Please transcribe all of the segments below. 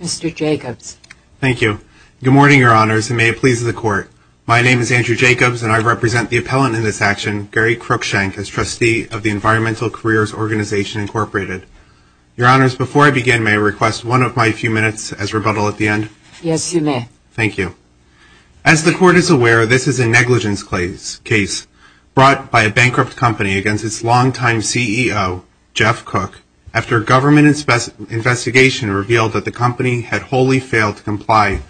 Mr. Jacobs. Thank you. Good morning, Your Honors, and may it please the Court. My name is Andrew Jacobs, and I represent the appellant in this action, Gary Crookshank, as trustee of the Environmental Careers Organization, Incorporated. Your Honors, before I begin, may I request one of my few minutes as rebuttal at the end? Yes, you may. Thank you. As the Court is aware, this is a negligence case brought by a bankrupt company against its longtime CEO, Jeff Cook, after a government investigation revealed that the company had wholly failed to comply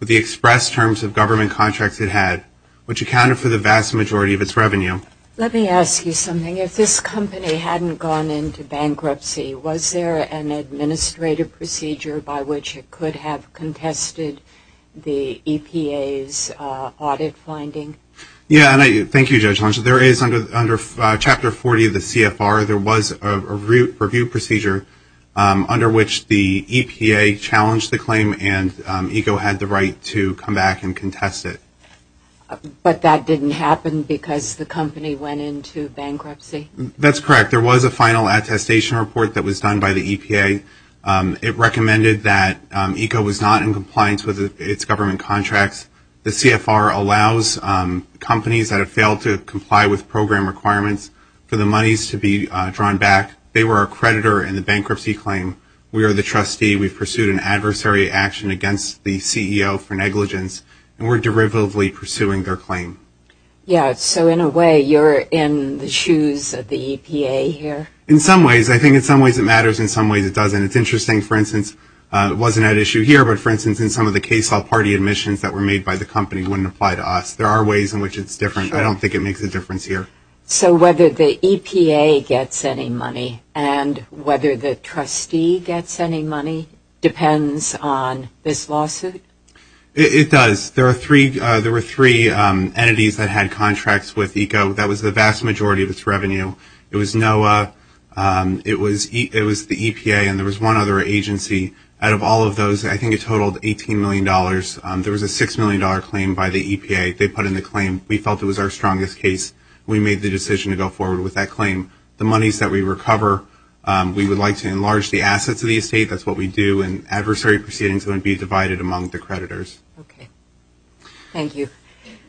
with the express terms of government contracts it had, which accounted for the vast majority of its revenue. Let me ask you something. If this company hadn't gone into bankruptcy, was there an administrative procedure by which it could have contested the EPA's audit finding? Yes, and thank you, Judge Lange. There is, under Chapter 40 of the CFR, there was a review procedure under which the EPA challenged the claim and ECO had the right to come back and contest it. But that didn't happen because the company went into bankruptcy? That's correct. There was a final attestation report that was done by the EPA. It recommended that ECO was not in compliance with its government contracts. The CFR allows companies that have failed to comply with program requirements for the monies to be drawn back. They were our creditor in the bankruptcy claim. We are the trustee. We've pursued an adversary action against the CEO for negligence, and we're derivatively pursuing their claim. Yes, so in a way you're in the shoes of the EPA here? In some ways. I think in some ways it matters, in some ways it doesn't. It's interesting, for instance, it wasn't at issue here, but for instance in some of the case law party admissions that were made by the company wouldn't apply to us. There are ways in which it's different. I don't think it makes a difference here. So whether the EPA gets any money and whether the trustee gets any money depends on this lawsuit? It does. There were three entities that had contracts with ECO. That was the vast majority of its revenue. It was NOAA, it was the EPA, and there was one other agency. Out of all of those, I think it totaled $18 million. There was a $6 million claim by the EPA. They put in a claim. We felt it was our strongest case. We made the decision to go forward with that claim. The monies that we recover, we would like to enlarge the assets of the estate. That's what we do in adversary proceedings that would be divided among the creditors. Okay. Thank you.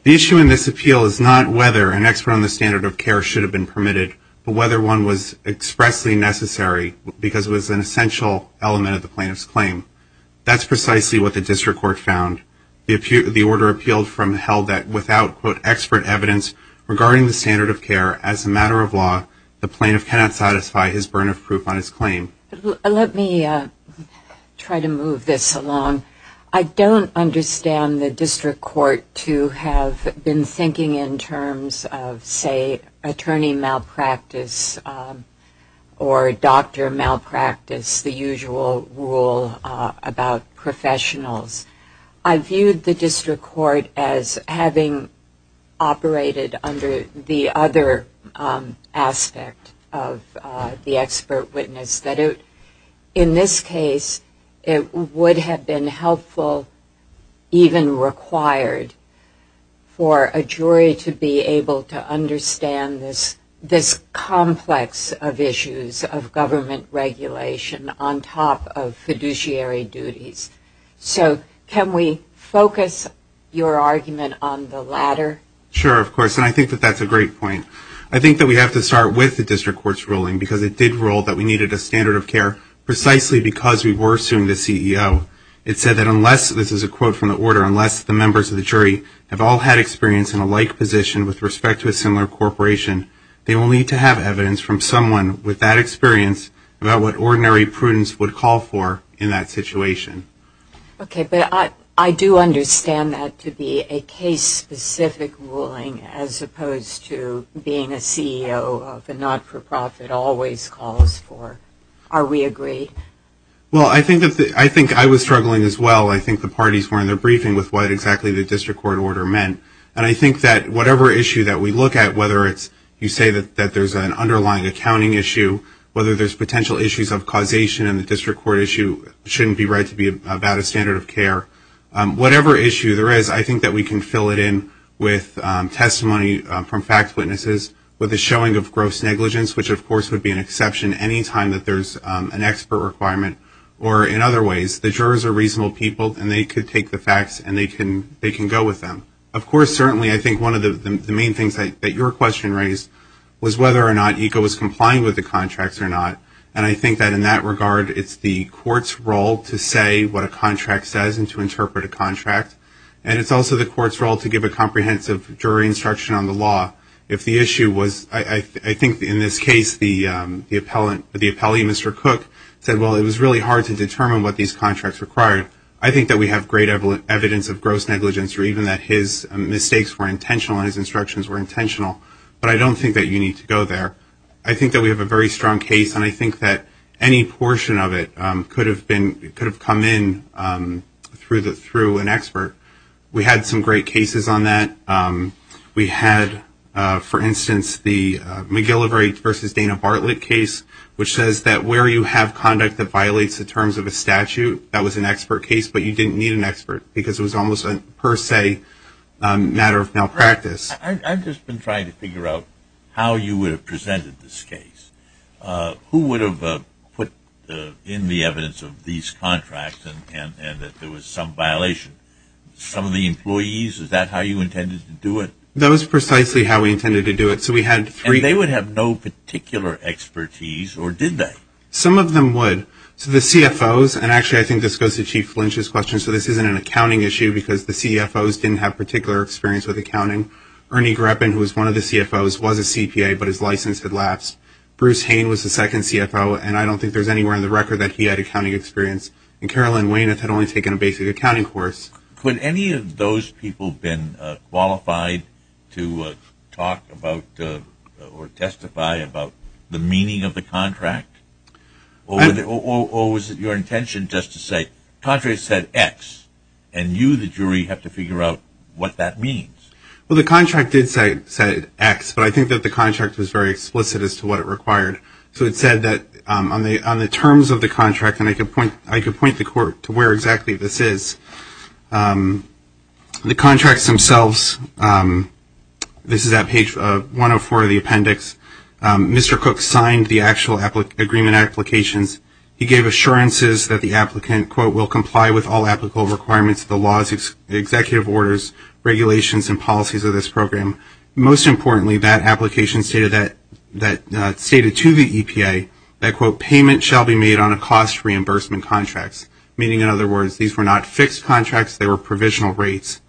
The issue in this appeal is not whether an expert on the standard of care should have been permitted, but whether one was expressly necessary because it was an essential element of the plaintiff's claim. That's precisely what the district court found. The order appealed from held that without, quote, expert evidence regarding the standard of care as a matter of law, the plaintiff cannot satisfy his burden of proof on his claim. Let me try to move this along. I don't understand the district court to have been thinking in terms of, say, attorney malpractice or doctor malpractice, the usual rule about professionals. I viewed the district court as having operated under the other aspect of the expert witness, that in this case, it would have been helpful, even required, for a jury to be able to understand this complex of issues of government regulation on top of fiduciary duties. So can we focus your argument on the latter? Sure, of course, and I think that that's a great point. I think that we have to start with the district court's ruling because it did rule that we needed a standard of care precisely because we were suing the CEO. It said that unless, this is a quote from the order, unless the members of the jury have all had experience in a like position with respect to a similar corporation, they will need to have evidence from someone with that situation. Okay, but I do understand that to be a case-specific ruling as opposed to being a CEO of a not-for-profit always calls for. Are we agreed? Well, I think I was struggling as well. I think the parties were in their briefing with what exactly the district court order meant, and I think that whatever issue that we look at, whether it's you say that there's an underlying accounting issue, whether there's potential issues of causation in the district court issue, shouldn't be read to be about a standard of care, whatever issue there is, I think that we can fill it in with testimony from fact witnesses with the showing of gross negligence, which of course would be an exception anytime that there's an expert requirement, or in other ways, the jurors are reasonable people and they could take the facts and they can go with them. Of course, certainly, I think one of the main things that your question raised was whether or not ECO was complying with the contracts or not, and I think that in that regard, it's the court's role to say what a contract says and to interpret a contract, and it's also the court's role to give a comprehensive jury instruction on the law. If the issue was, I think in this case, the appellee, Mr. Cook, said, well, it was really hard to determine what these contracts required, I think that we have great evidence of gross negligence or even that his mistakes were intentional and his instructions were intentional, but I don't think that you need to go there. I think that we have a very strong case and I think that any portion of it could have come in through an expert. We had some great cases on that. We had, for instance, the McGillivray v. Dana Bartlett case, which says that where you have conduct that violates the terms of a statute, that was an expert case, but you didn't need an expert because it was almost a per se matter of malpractice. I've just been trying to figure out how you would have presented this case. Who would have put in the evidence of these contracts and that there was some violation? Some of the employees? Is that how you intended to do it? That was precisely how we intended to do it. So we had three... And they would have no particular expertise or did they? Some of them would. So the CFOs, and actually I think this goes to Chief Lynch's question, so this isn't an accounting issue because the CFOs didn't have particular experience with accounting. Ernie Greppin, who was one of the CFOs, was a CPA, but his license had lapsed. Bruce Hain was the second CFO, and I don't think there's anywhere on the record that he had accounting experience. And Carolyn Weyneth had only taken a basic accounting course. Could any of those people have been qualified to talk about or testify about the meaning of the contract? Or was it your intention just to say, the contract said X, and you the jury have to figure out what that means? Well, the contract did say X, but I think that the contract was very explicit as to what it required. So it said that on the terms of the contract, and I could point the court to where exactly this is, the contracts themselves, this is at page 104 of the appendix, Mr. Cook signed the actual agreement applications. He gave assurances that the applicant, quote, will comply with all applicable requirements of the laws, executive orders, regulations, and policies of this program. Most importantly, that application stated to the EPA that, quote, payment shall be made on a cost reimbursement contracts, meaning in other words, these were not fixed contracts, they were provisional rates.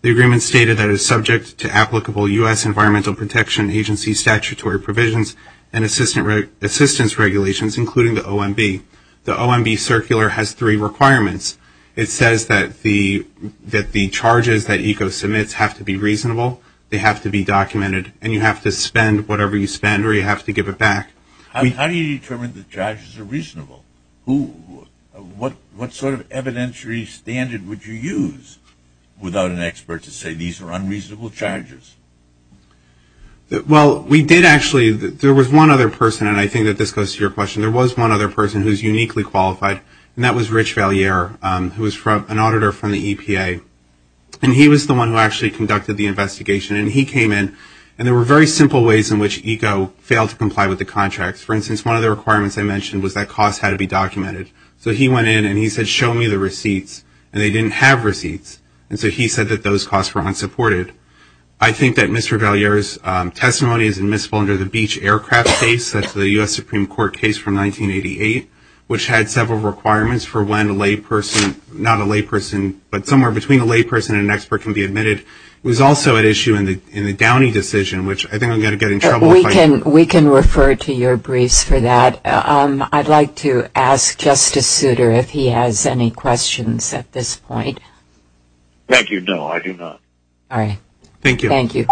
The agreement stated that it was subject to applicable U.S. Environmental Protection Agency statutory provisions and assistance regulations, including the OMB. The OMB circular has three requirements. It says that the charges that ECO submits have to be reasonable, they have to be documented, and you have to spend whatever you spend or you have to give it back. How do you determine the charges are reasonable? What sort of evidentiary standard would you use without an expert to say these are unreasonable charges? Well, we did actually, there was one other person, and I think that this goes to your question, there was one other person who is uniquely qualified, and that was Rich Valliere, who was an auditor from the EPA. And he was the one who actually conducted the investigation, and he came in, and there were very simple ways in which ECO failed to comply with the contracts. For instance, one of the requirements I mentioned was that costs had to be documented. So he went in and he said, show me the receipts, and they didn't have receipts, and so he said that those costs were unsupported. I think that Mr. Valliere's testimony is admissible under the Beach Aircraft case, that's the U.S. Supreme Court case from 1988, which had several requirements for when a layperson, not a layperson, but somewhere between a layperson and an expert can be admitted. It was also at issue in the Downey decision, which I think I'm going to get in trouble if I... We can refer to your briefs for that. I'd like to ask Justice Souter if he has any questions at this point. Thank you. No, I do not. All right. Thank you. Thank you.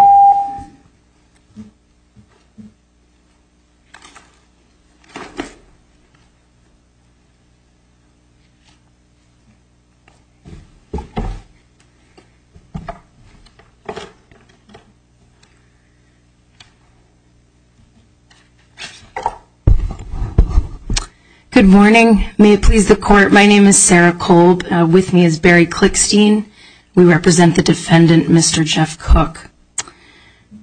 Good morning. May it please the Court, my name is Sarah Kolb. With me is Barry Klickstein. We represent the defendant, Mr. Jeff Cook.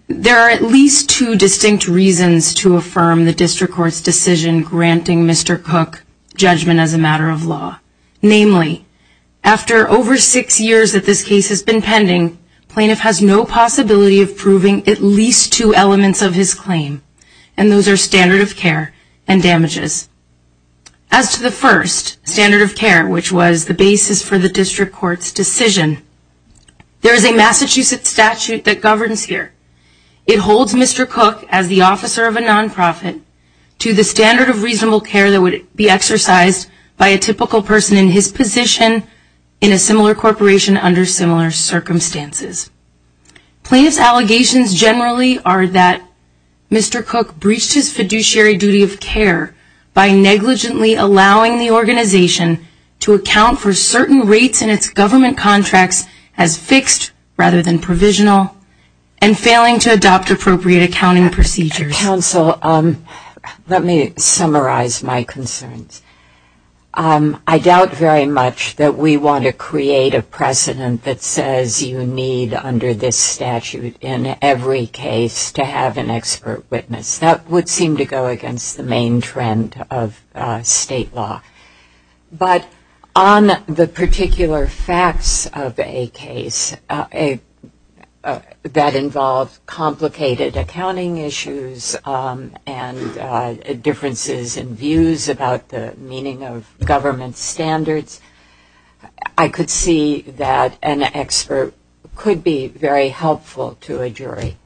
There are at least two distinct reasons to defend the District Court's decision granting Mr. Cook judgment as a matter of law. Namely, after over six years that this case has been pending, plaintiff has no possibility of proving at least two elements of his claim, and those are standard of care and damages. As to the first, standard of care, which was the basis for the District Court's decision, there is a Massachusetts statute that governs here. It holds Mr. Cook as the officer of a non-profit to the standard of reasonable care that would be exercised by a typical person in his position in a similar corporation under similar circumstances. Plaintiff's allegations generally are that Mr. Cook breached his fiduciary duty of care by negligently allowing the organization to account for certain rates in its government contracts as fixed rather than provisional, and failing to adopt appropriate accounting procedures. Mr. Counsel, let me summarize my concerns. I doubt very much that we want to create a precedent that says you need, under this statute, in every case to have an expert witness. That would seem to go against the main trend of state law. But on the particular facts of a case that involved complicated accounting issues and differences in views about the meaning of government standards, I could see that an expert could be very helpful to a jury.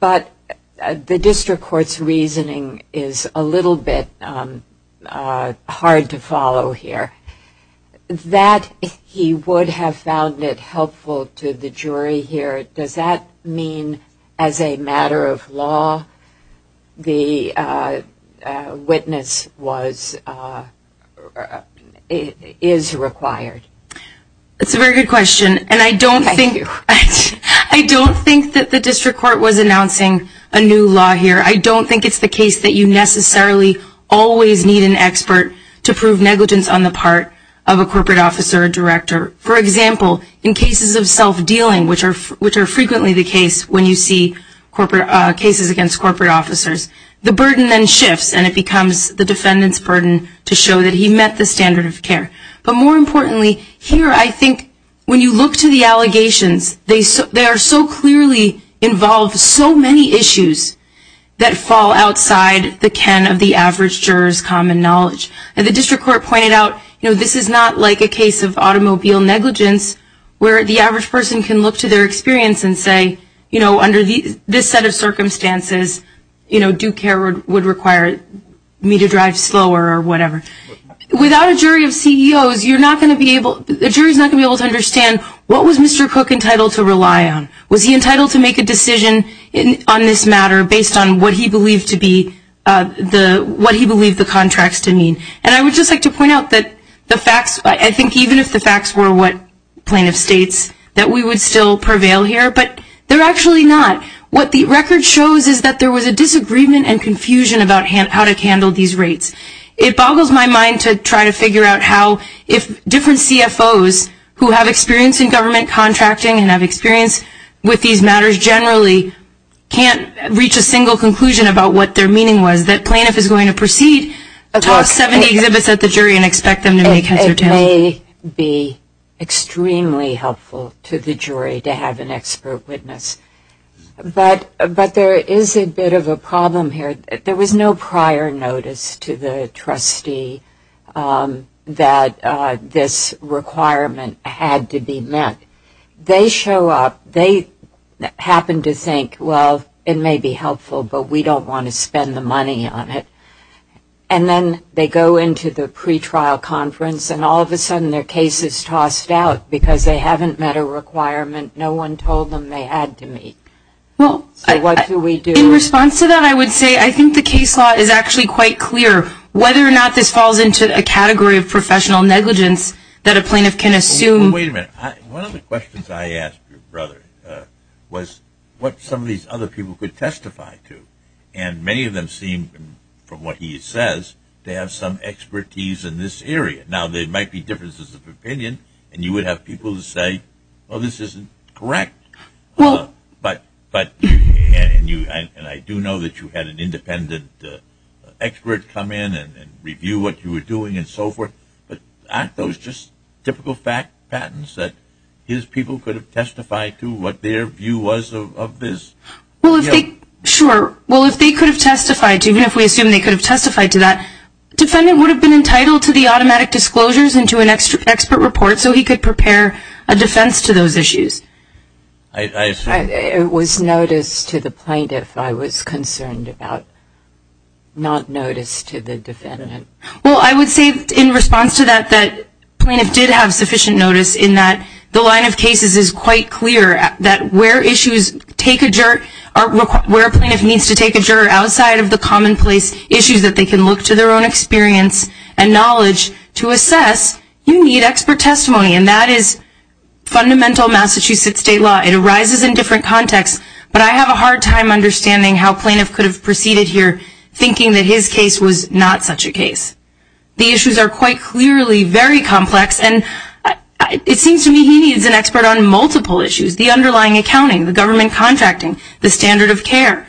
But the District Court's reasoning is a little bit hard to follow here. That he would have found it helpful to the jury here, does that mean as a matter of law the witness is required? That's a very good question. I don't think that the District Court was announcing a new law here. I don't think it's the case that you necessarily always need an expert to prove negligence on the part of a corporate officer or director. For example, in cases of self-dealing, which are frequently the case when you see cases against corporate officers, the burden then shifts and it becomes the defendant's burden to show that he met the standard of Here, I think when you look to the allegations, they are so clearly involved, so many issues that fall outside the ken of the average juror's common knowledge. The District Court pointed out this is not like a case of automobile negligence where the average person can look to their experience and say, under this set of circumstances, due care would require me to drive slower or whatever. Without a jury of CEOs, the jury is not going to be able to understand what was Mr. Cook entitled to rely on? Was he entitled to make a decision on this matter based on what he believed the contracts to mean? And I would just like to point out that the facts, I think even if the facts were what plaintiff states, that we would still prevail here, but they're actually not. What the record shows is that there was a disagreement and confusion about how to handle these rates. It boggles my mind to try to figure out how, if different CFOs who have experience in government contracting and have experience with these matters generally can't reach a single conclusion about what their meaning was, that plaintiff is going to proceed, toss 70 exhibits at the jury and expect them to make heads or tails of it. It may be extremely helpful to the jury to have an expert witness. But there is a bit of a problem here. There was no prior notice to the trustee that this requirement had to be met. They show up. They happen to think, well, it may be helpful, but we don't want to spend the money on it. And then they go into the pretrial conference and all of a sudden their case is tossed out because they haven't met a requirement. No one told them they had to meet. So what do we do? In response to that, I would say I think the case law is actually quite clear, whether or not this falls into a category of professional negligence that a plaintiff can assume. Wait a minute. One of the questions I asked your brother was what some of these other people could testify to. And many of them seem, from what he says, they have some expertise in this area. Now, there might be differences of opinion and you would have people who say, this isn't correct. And I do know that you had an independent expert come in and review what you were doing and so forth. But aren't those just typical patents that his people could have testified to, what their view was of this? Sure. Well, if they could have testified to, even if we assume they could have testified to that, the defendant would have been entitled to the automatic disclosures and to an expert report so he could prepare a defense to those issues. It was notice to the plaintiff I was concerned about, not notice to the defendant. Well, I would say in response to that, that plaintiff did have sufficient notice in that the line of cases is quite clear that where issues take a jerk, where a plaintiff needs to take a jerk outside of the commonplace issues that they can look to their own experience and knowledge to assess, you need expert testimony. And that is fundamental Massachusetts state law. It arises in different contexts, but I have a hard time understanding how a plaintiff could have proceeded here thinking that his case was not such a case. The issues are quite clearly very complex and it seems to me he needs an expert on multiple issues, the underlying accounting, the government contracting, the standard of care.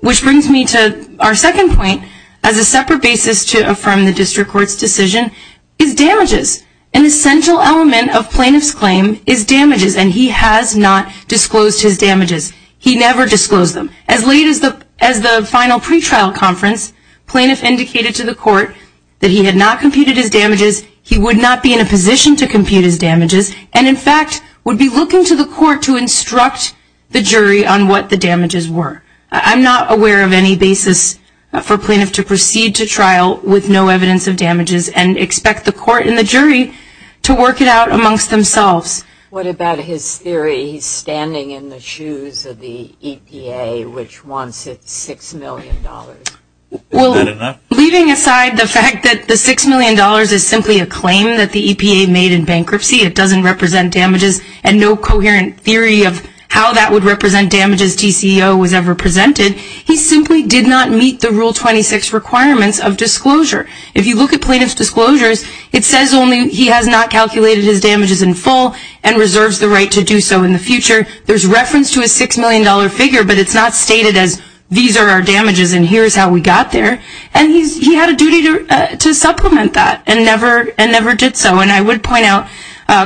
Which brings me to our second point as a separate basis to affirm the district court's decision is damages. An essential element of plaintiff's claim is damages and he has not disclosed his damages. He never disclosed them. As late as the final pretrial conference, plaintiff indicated to the court that he had not computed his damages, he would not be in a position to compute his damages, and in fact would be looking to the court to instruct the jury on what the damages were. I'm not aware of any basis for a plaintiff to proceed to trial with no evidence of damages and expect the court and the jury to work it out amongst themselves. What about his theory he's standing in the shoes of the EPA which wants its $6 million? Well, leaving aside the fact that the $6 million is simply a claim that the EPA made in bankruptcy, it doesn't represent damages and no coherent theory of how that would represent damages TCEO was ever presented, he simply did not meet the Rule 26 requirements of disclosure. If you look at plaintiff's disclosures, it says only he has not calculated his damages in full and reserves the right to do so in the future. There's reference to a $6 million figure but it's not stated as these are our damages and here's how we got there. And he had a duty to supplement that and never did so. And I would point out,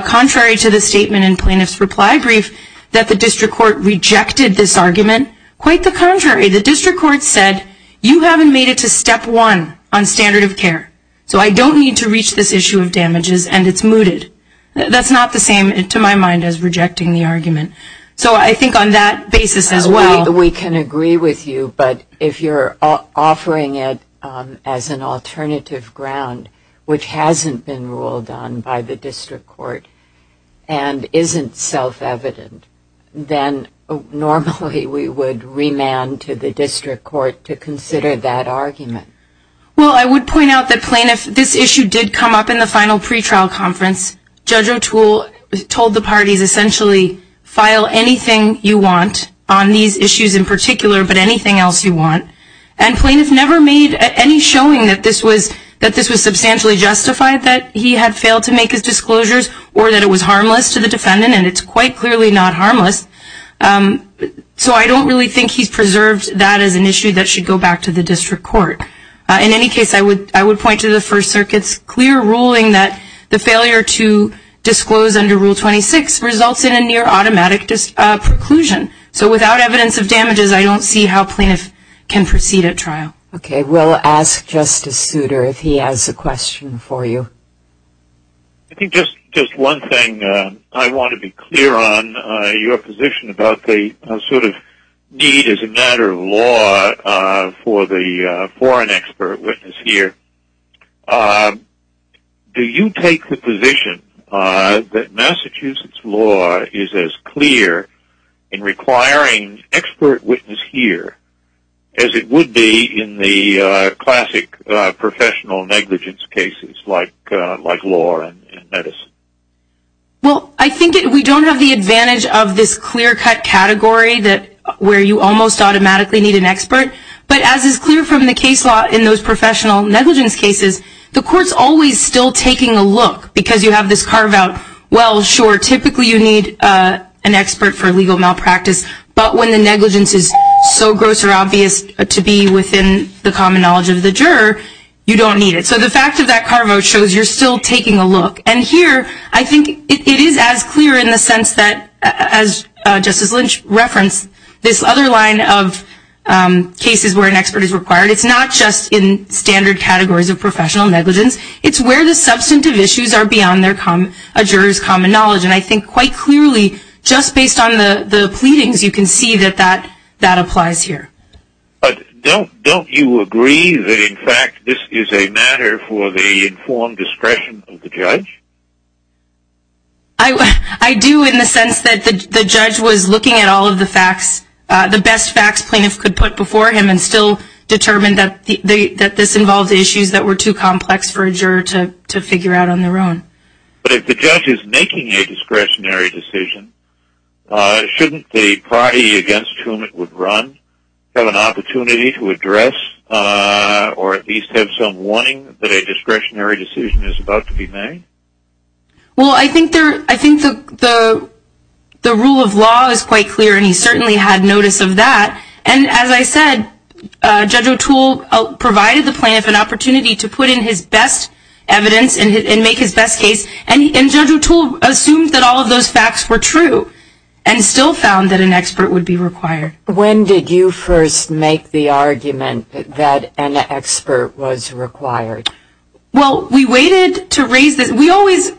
contrary to the statement in plaintiff's reply brief, that the district court rejected this argument. Quite the contrary, the district court said, you haven't made it to step one on standard of care. So I don't need to reach this issue of damages and it's mooted. That's not the same to my mind as rejecting the argument. So I think on that basis as well. We can agree with you, but if you're offering it as an alternative ground, which hasn't been ruled on by the district court and isn't self-evident, then normally we would remand to the district court to consider that argument. Well, I would point out that plaintiff, this issue did come up in the final pretrial conference. Judge O'Toole told the parties essentially file anything you want on these issues in particular, but anything else you want. And plaintiff never made any showing that this was substantially justified, that he had failed to make his disclosures or that it was harmless to the defendant and it's quite clearly not harmless. So I don't really think he's preserved that as an issue that should go back to the district court. In any case, I would point to the First Circuit's clear ruling that the failure to disclose under Rule 26 results in a near automatic preclusion. So without evidence of damages, I don't see how plaintiff can proceed at trial. Okay, we'll ask Justice Souter if he has a question for you. I think just one thing I want to be clear on, your position about the sort of need as a matter of law for an expert witness here. Do you take the position that Massachusetts law is as clear in requiring expert witness here as it would be in the classic professional negligence cases like law and medicine? Well, I think we don't have the advantage of this clear cut category where you almost automatically need an expert. But as is clear from the case law in those professional negligence cases, the court's always still taking a look because you have this carve out, well, sure, typically you need an expert for legal malpractice, but when the negligence is so gross or obvious to be within the common knowledge of the juror, you don't need it. So the fact of that carve out shows you're still taking a look. And here, I think it is as clear in the sense that, as Justice Lynch referenced, this other line of cases where an expert is required, it's not just in standard categories of professional negligence, it's where the substantive issues are beyond a juror's common knowledge. And I think quite clearly, just based on the pleadings, you can see that that applies here. But don't you agree that, in fact, this is a matter for the informed discretion of the judge? I do in the sense that the judge was looking at all of the facts, the best facts plaintiffs could put before him and still determined that this involved issues that were too complex for a juror to figure out on their own. But if the judge is making a discretionary decision, shouldn't the party against whom it would run have an opportunity to address or at least have some warning that a discretionary decision is about to be made? Well, I think the rule of law is quite clear, and he certainly had notice of that. And as I said, Judge O'Toole provided the plaintiff an opportunity to put in his best evidence and make his best case. And Judge O'Toole assumed that all of those facts were true and still found that an expert would be required. When did you first make the argument that an expert was required? Well, we waited to raise this. We always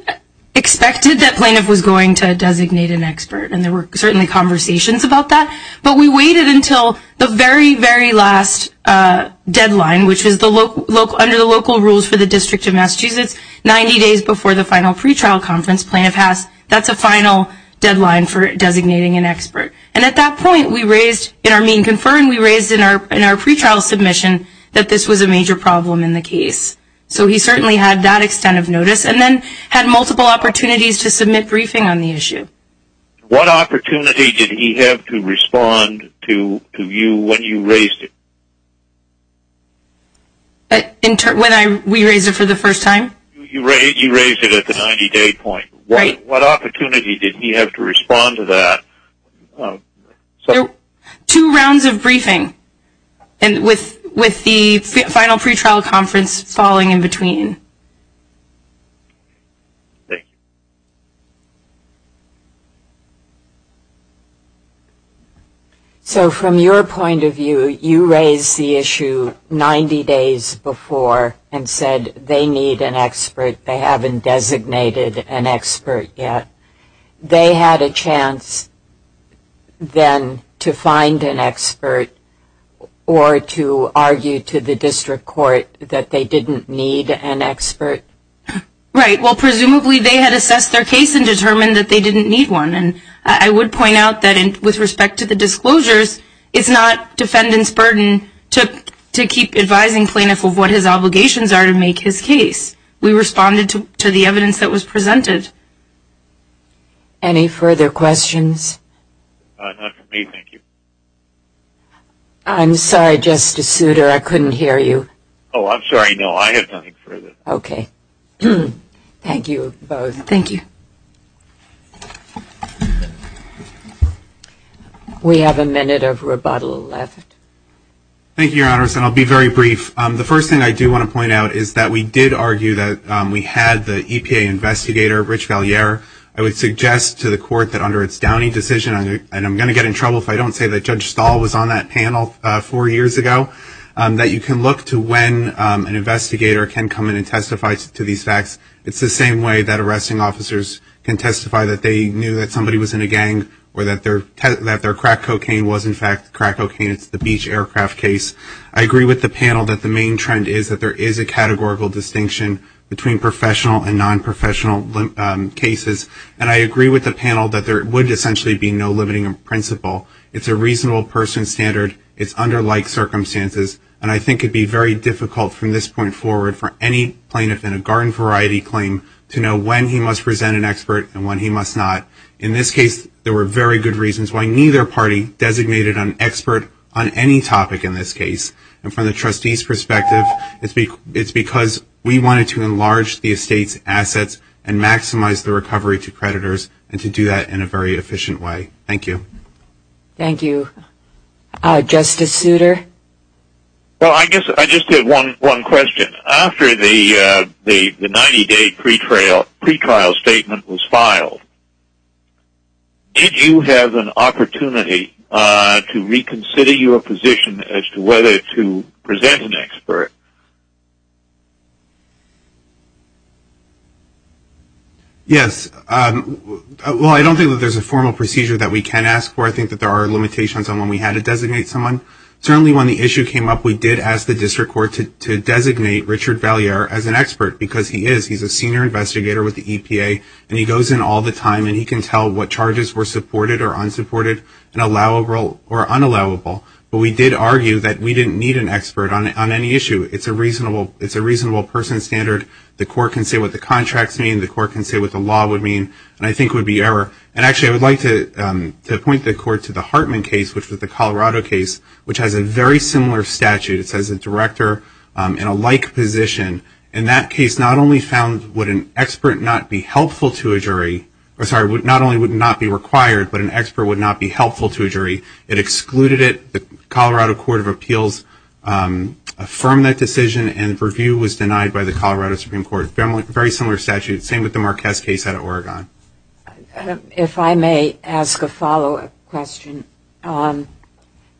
expected that plaintiff was going to designate an expert, and there were certainly conversations about that. But we waited until the very, very last deadline, which is under the local rules for the District of Massachusetts, 90 days before the final pre-trial conference plaintiff has. That's a final deadline for designating an expert. And at that point, we raised, in our mean-confirmed, we raised in our pre-trial submission that this was a major problem in the case. So he certainly had that extent of notice and then had multiple opportunities to submit briefing on the issue. What opportunity did he have to respond to you when you raised it? When we raised it for the first time? You raised it at the 90-day point. What opportunity did he have to respond to that? Two rounds of briefing, and with the final pre-trial conference falling in between. So from your point of view, you raised the issue 90 days before and said they need an expert. They haven't designated an expert yet. They had a chance then to find an expert or to argue to the district court that they didn't need an expert. Right. Well, presumably they had assessed their case and determined that they didn't need one. And I would point out that with respect to the disclosures, it's not defendant's burden to keep advising plaintiff of what his obligations are to make his case. We responded to the evidence that was presented. Any further questions? Not for me, thank you. I'm sorry, Justice Souter. I couldn't hear you. Oh, I'm sorry. No, I have nothing further. Thank you both. Thank you. We have a minute of rebuttal left. Thank you, Your Honors, and I'll be very brief. The first thing I do want to point out is that we did argue that we had the EPA investigator, Rich Valliere. I would suggest to the court that under its Downey decision, and I'm going to get in trouble if I don't say that Judge Stahl was on that panel four years ago, that you can look to when an investigator can come in and testify to these facts. It's the same way that arresting officers can testify that they knew that somebody was in a gang or that their crack cocaine was in fact crack cocaine. It's the beach aircraft case. I agree with the panel that the main trend is that there is a categorical distinction between professional and non-professional cases, and I agree with the panel that there would essentially be no limiting principle. It's a reasonable person standard. It's under like circumstances, and I think it would be very difficult from this point forward for any plaintiff in a garden variety claim to know when he must present an expert and when he must not. In this case, there were very good reasons why neither party designated an expert on any topic in this case, and from the trustee's perspective, it's because we wanted to enlarge the estate's assets and maximize the recovery to creditors and to do that in a very efficient way. Thank you. Thank you. Justice Souter? Well, I guess I just have one question. After the 90-day pretrial statement was filed, did you have an opportunity to reconsider your position as to whether to present an expert? Yes. Well, I don't think that there's a formal procedure that we can ask for. I think that there are limitations on when we had to designate someone. Certainly when the issue came up, we did ask the district court to designate Richard Valliere as an expert because he is. He's a senior investigator with the EPA, and he goes in all the time, and he can tell what charges were supported or unsupported and allowable or unallowable, but we did argue that we didn't need an expert on any issue. It's a reasonable person standard. The court can say what the contracts mean. The court can say what the law would mean, and I think it would be error. And actually, I would like to point the court to the Hartman case, which was the Colorado case, which has a very similar statute. It says a director in a like position. In that case, not only would not be required, but an expert would not be helpful to a jury. It excluded it. The Colorado Court of Appeals affirmed that decision, and review was denied by the Colorado Supreme Court. Very similar statute. Same with the Marquez case out of Oregon. If I may ask a follow-up question.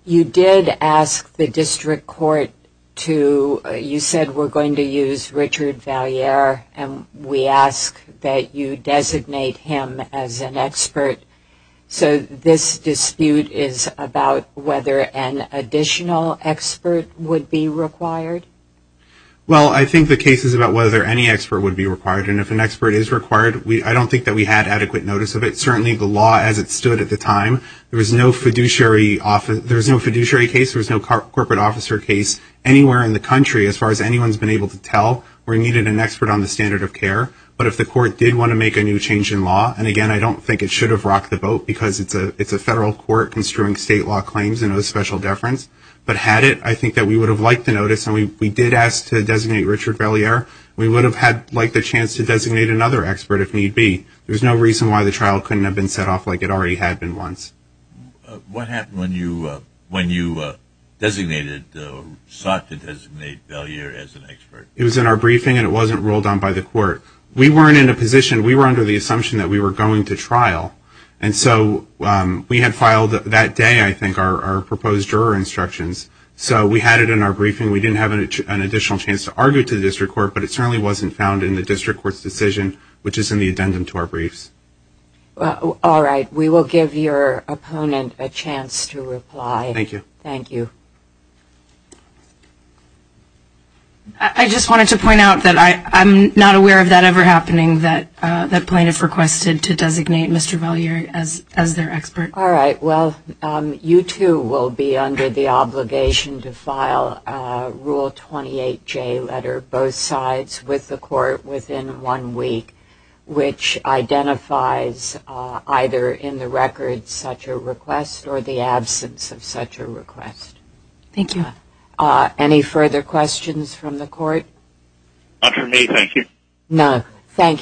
You did ask the district court to, you said we're going to use Richard Valliere, and we ask that you designate him as an expert. So this dispute is about whether an additional expert would be required? Well, I think the case is about whether any expert would be required, and if an expert is required, I don't think that we had adequate notice of it. Certainly, the law as it stood at the time, there was no fiduciary case. There was no corporate officer case anywhere in the country, as far as anyone's been able to tell, where you needed an expert on the standard of care. But if the court did want to make a new change in law, and again, I don't think it should have rocked the boat, because it's a federal court construing state law claims and no special deference. But had it, I think that we would have liked the notice, and we did ask to designate Richard Valliere. We would have liked the chance to designate another expert if need be. There's no reason why the trial couldn't have been set off like it already had been once. What happened when you sought to designate Valliere as an expert? It was in our briefing, and it wasn't ruled on by the court. We weren't in a position, we were under the assumption that we were going to trial. And so, we had filed that day, I think, our proposed juror instructions. So, we had it in our briefing. We didn't have an additional chance to argue to the district court, but it certainly wasn't found in the district court's decision, which is in the addendum to our briefs. All right. We will give your opponent a chance to reply. Thank you. Thank you. I just wanted to point out that I'm not aware of that ever happening, that plaintiff requested to designate Mr. Valliere as their expert. All right. Well, you, too, will be under the obligation to file Rule 28J letter both sides with the court within one week, which identifies either in the record such a request or the absence of such a request. Thank you. Any further questions from the court? Not from me. Thank you. None. Thank you.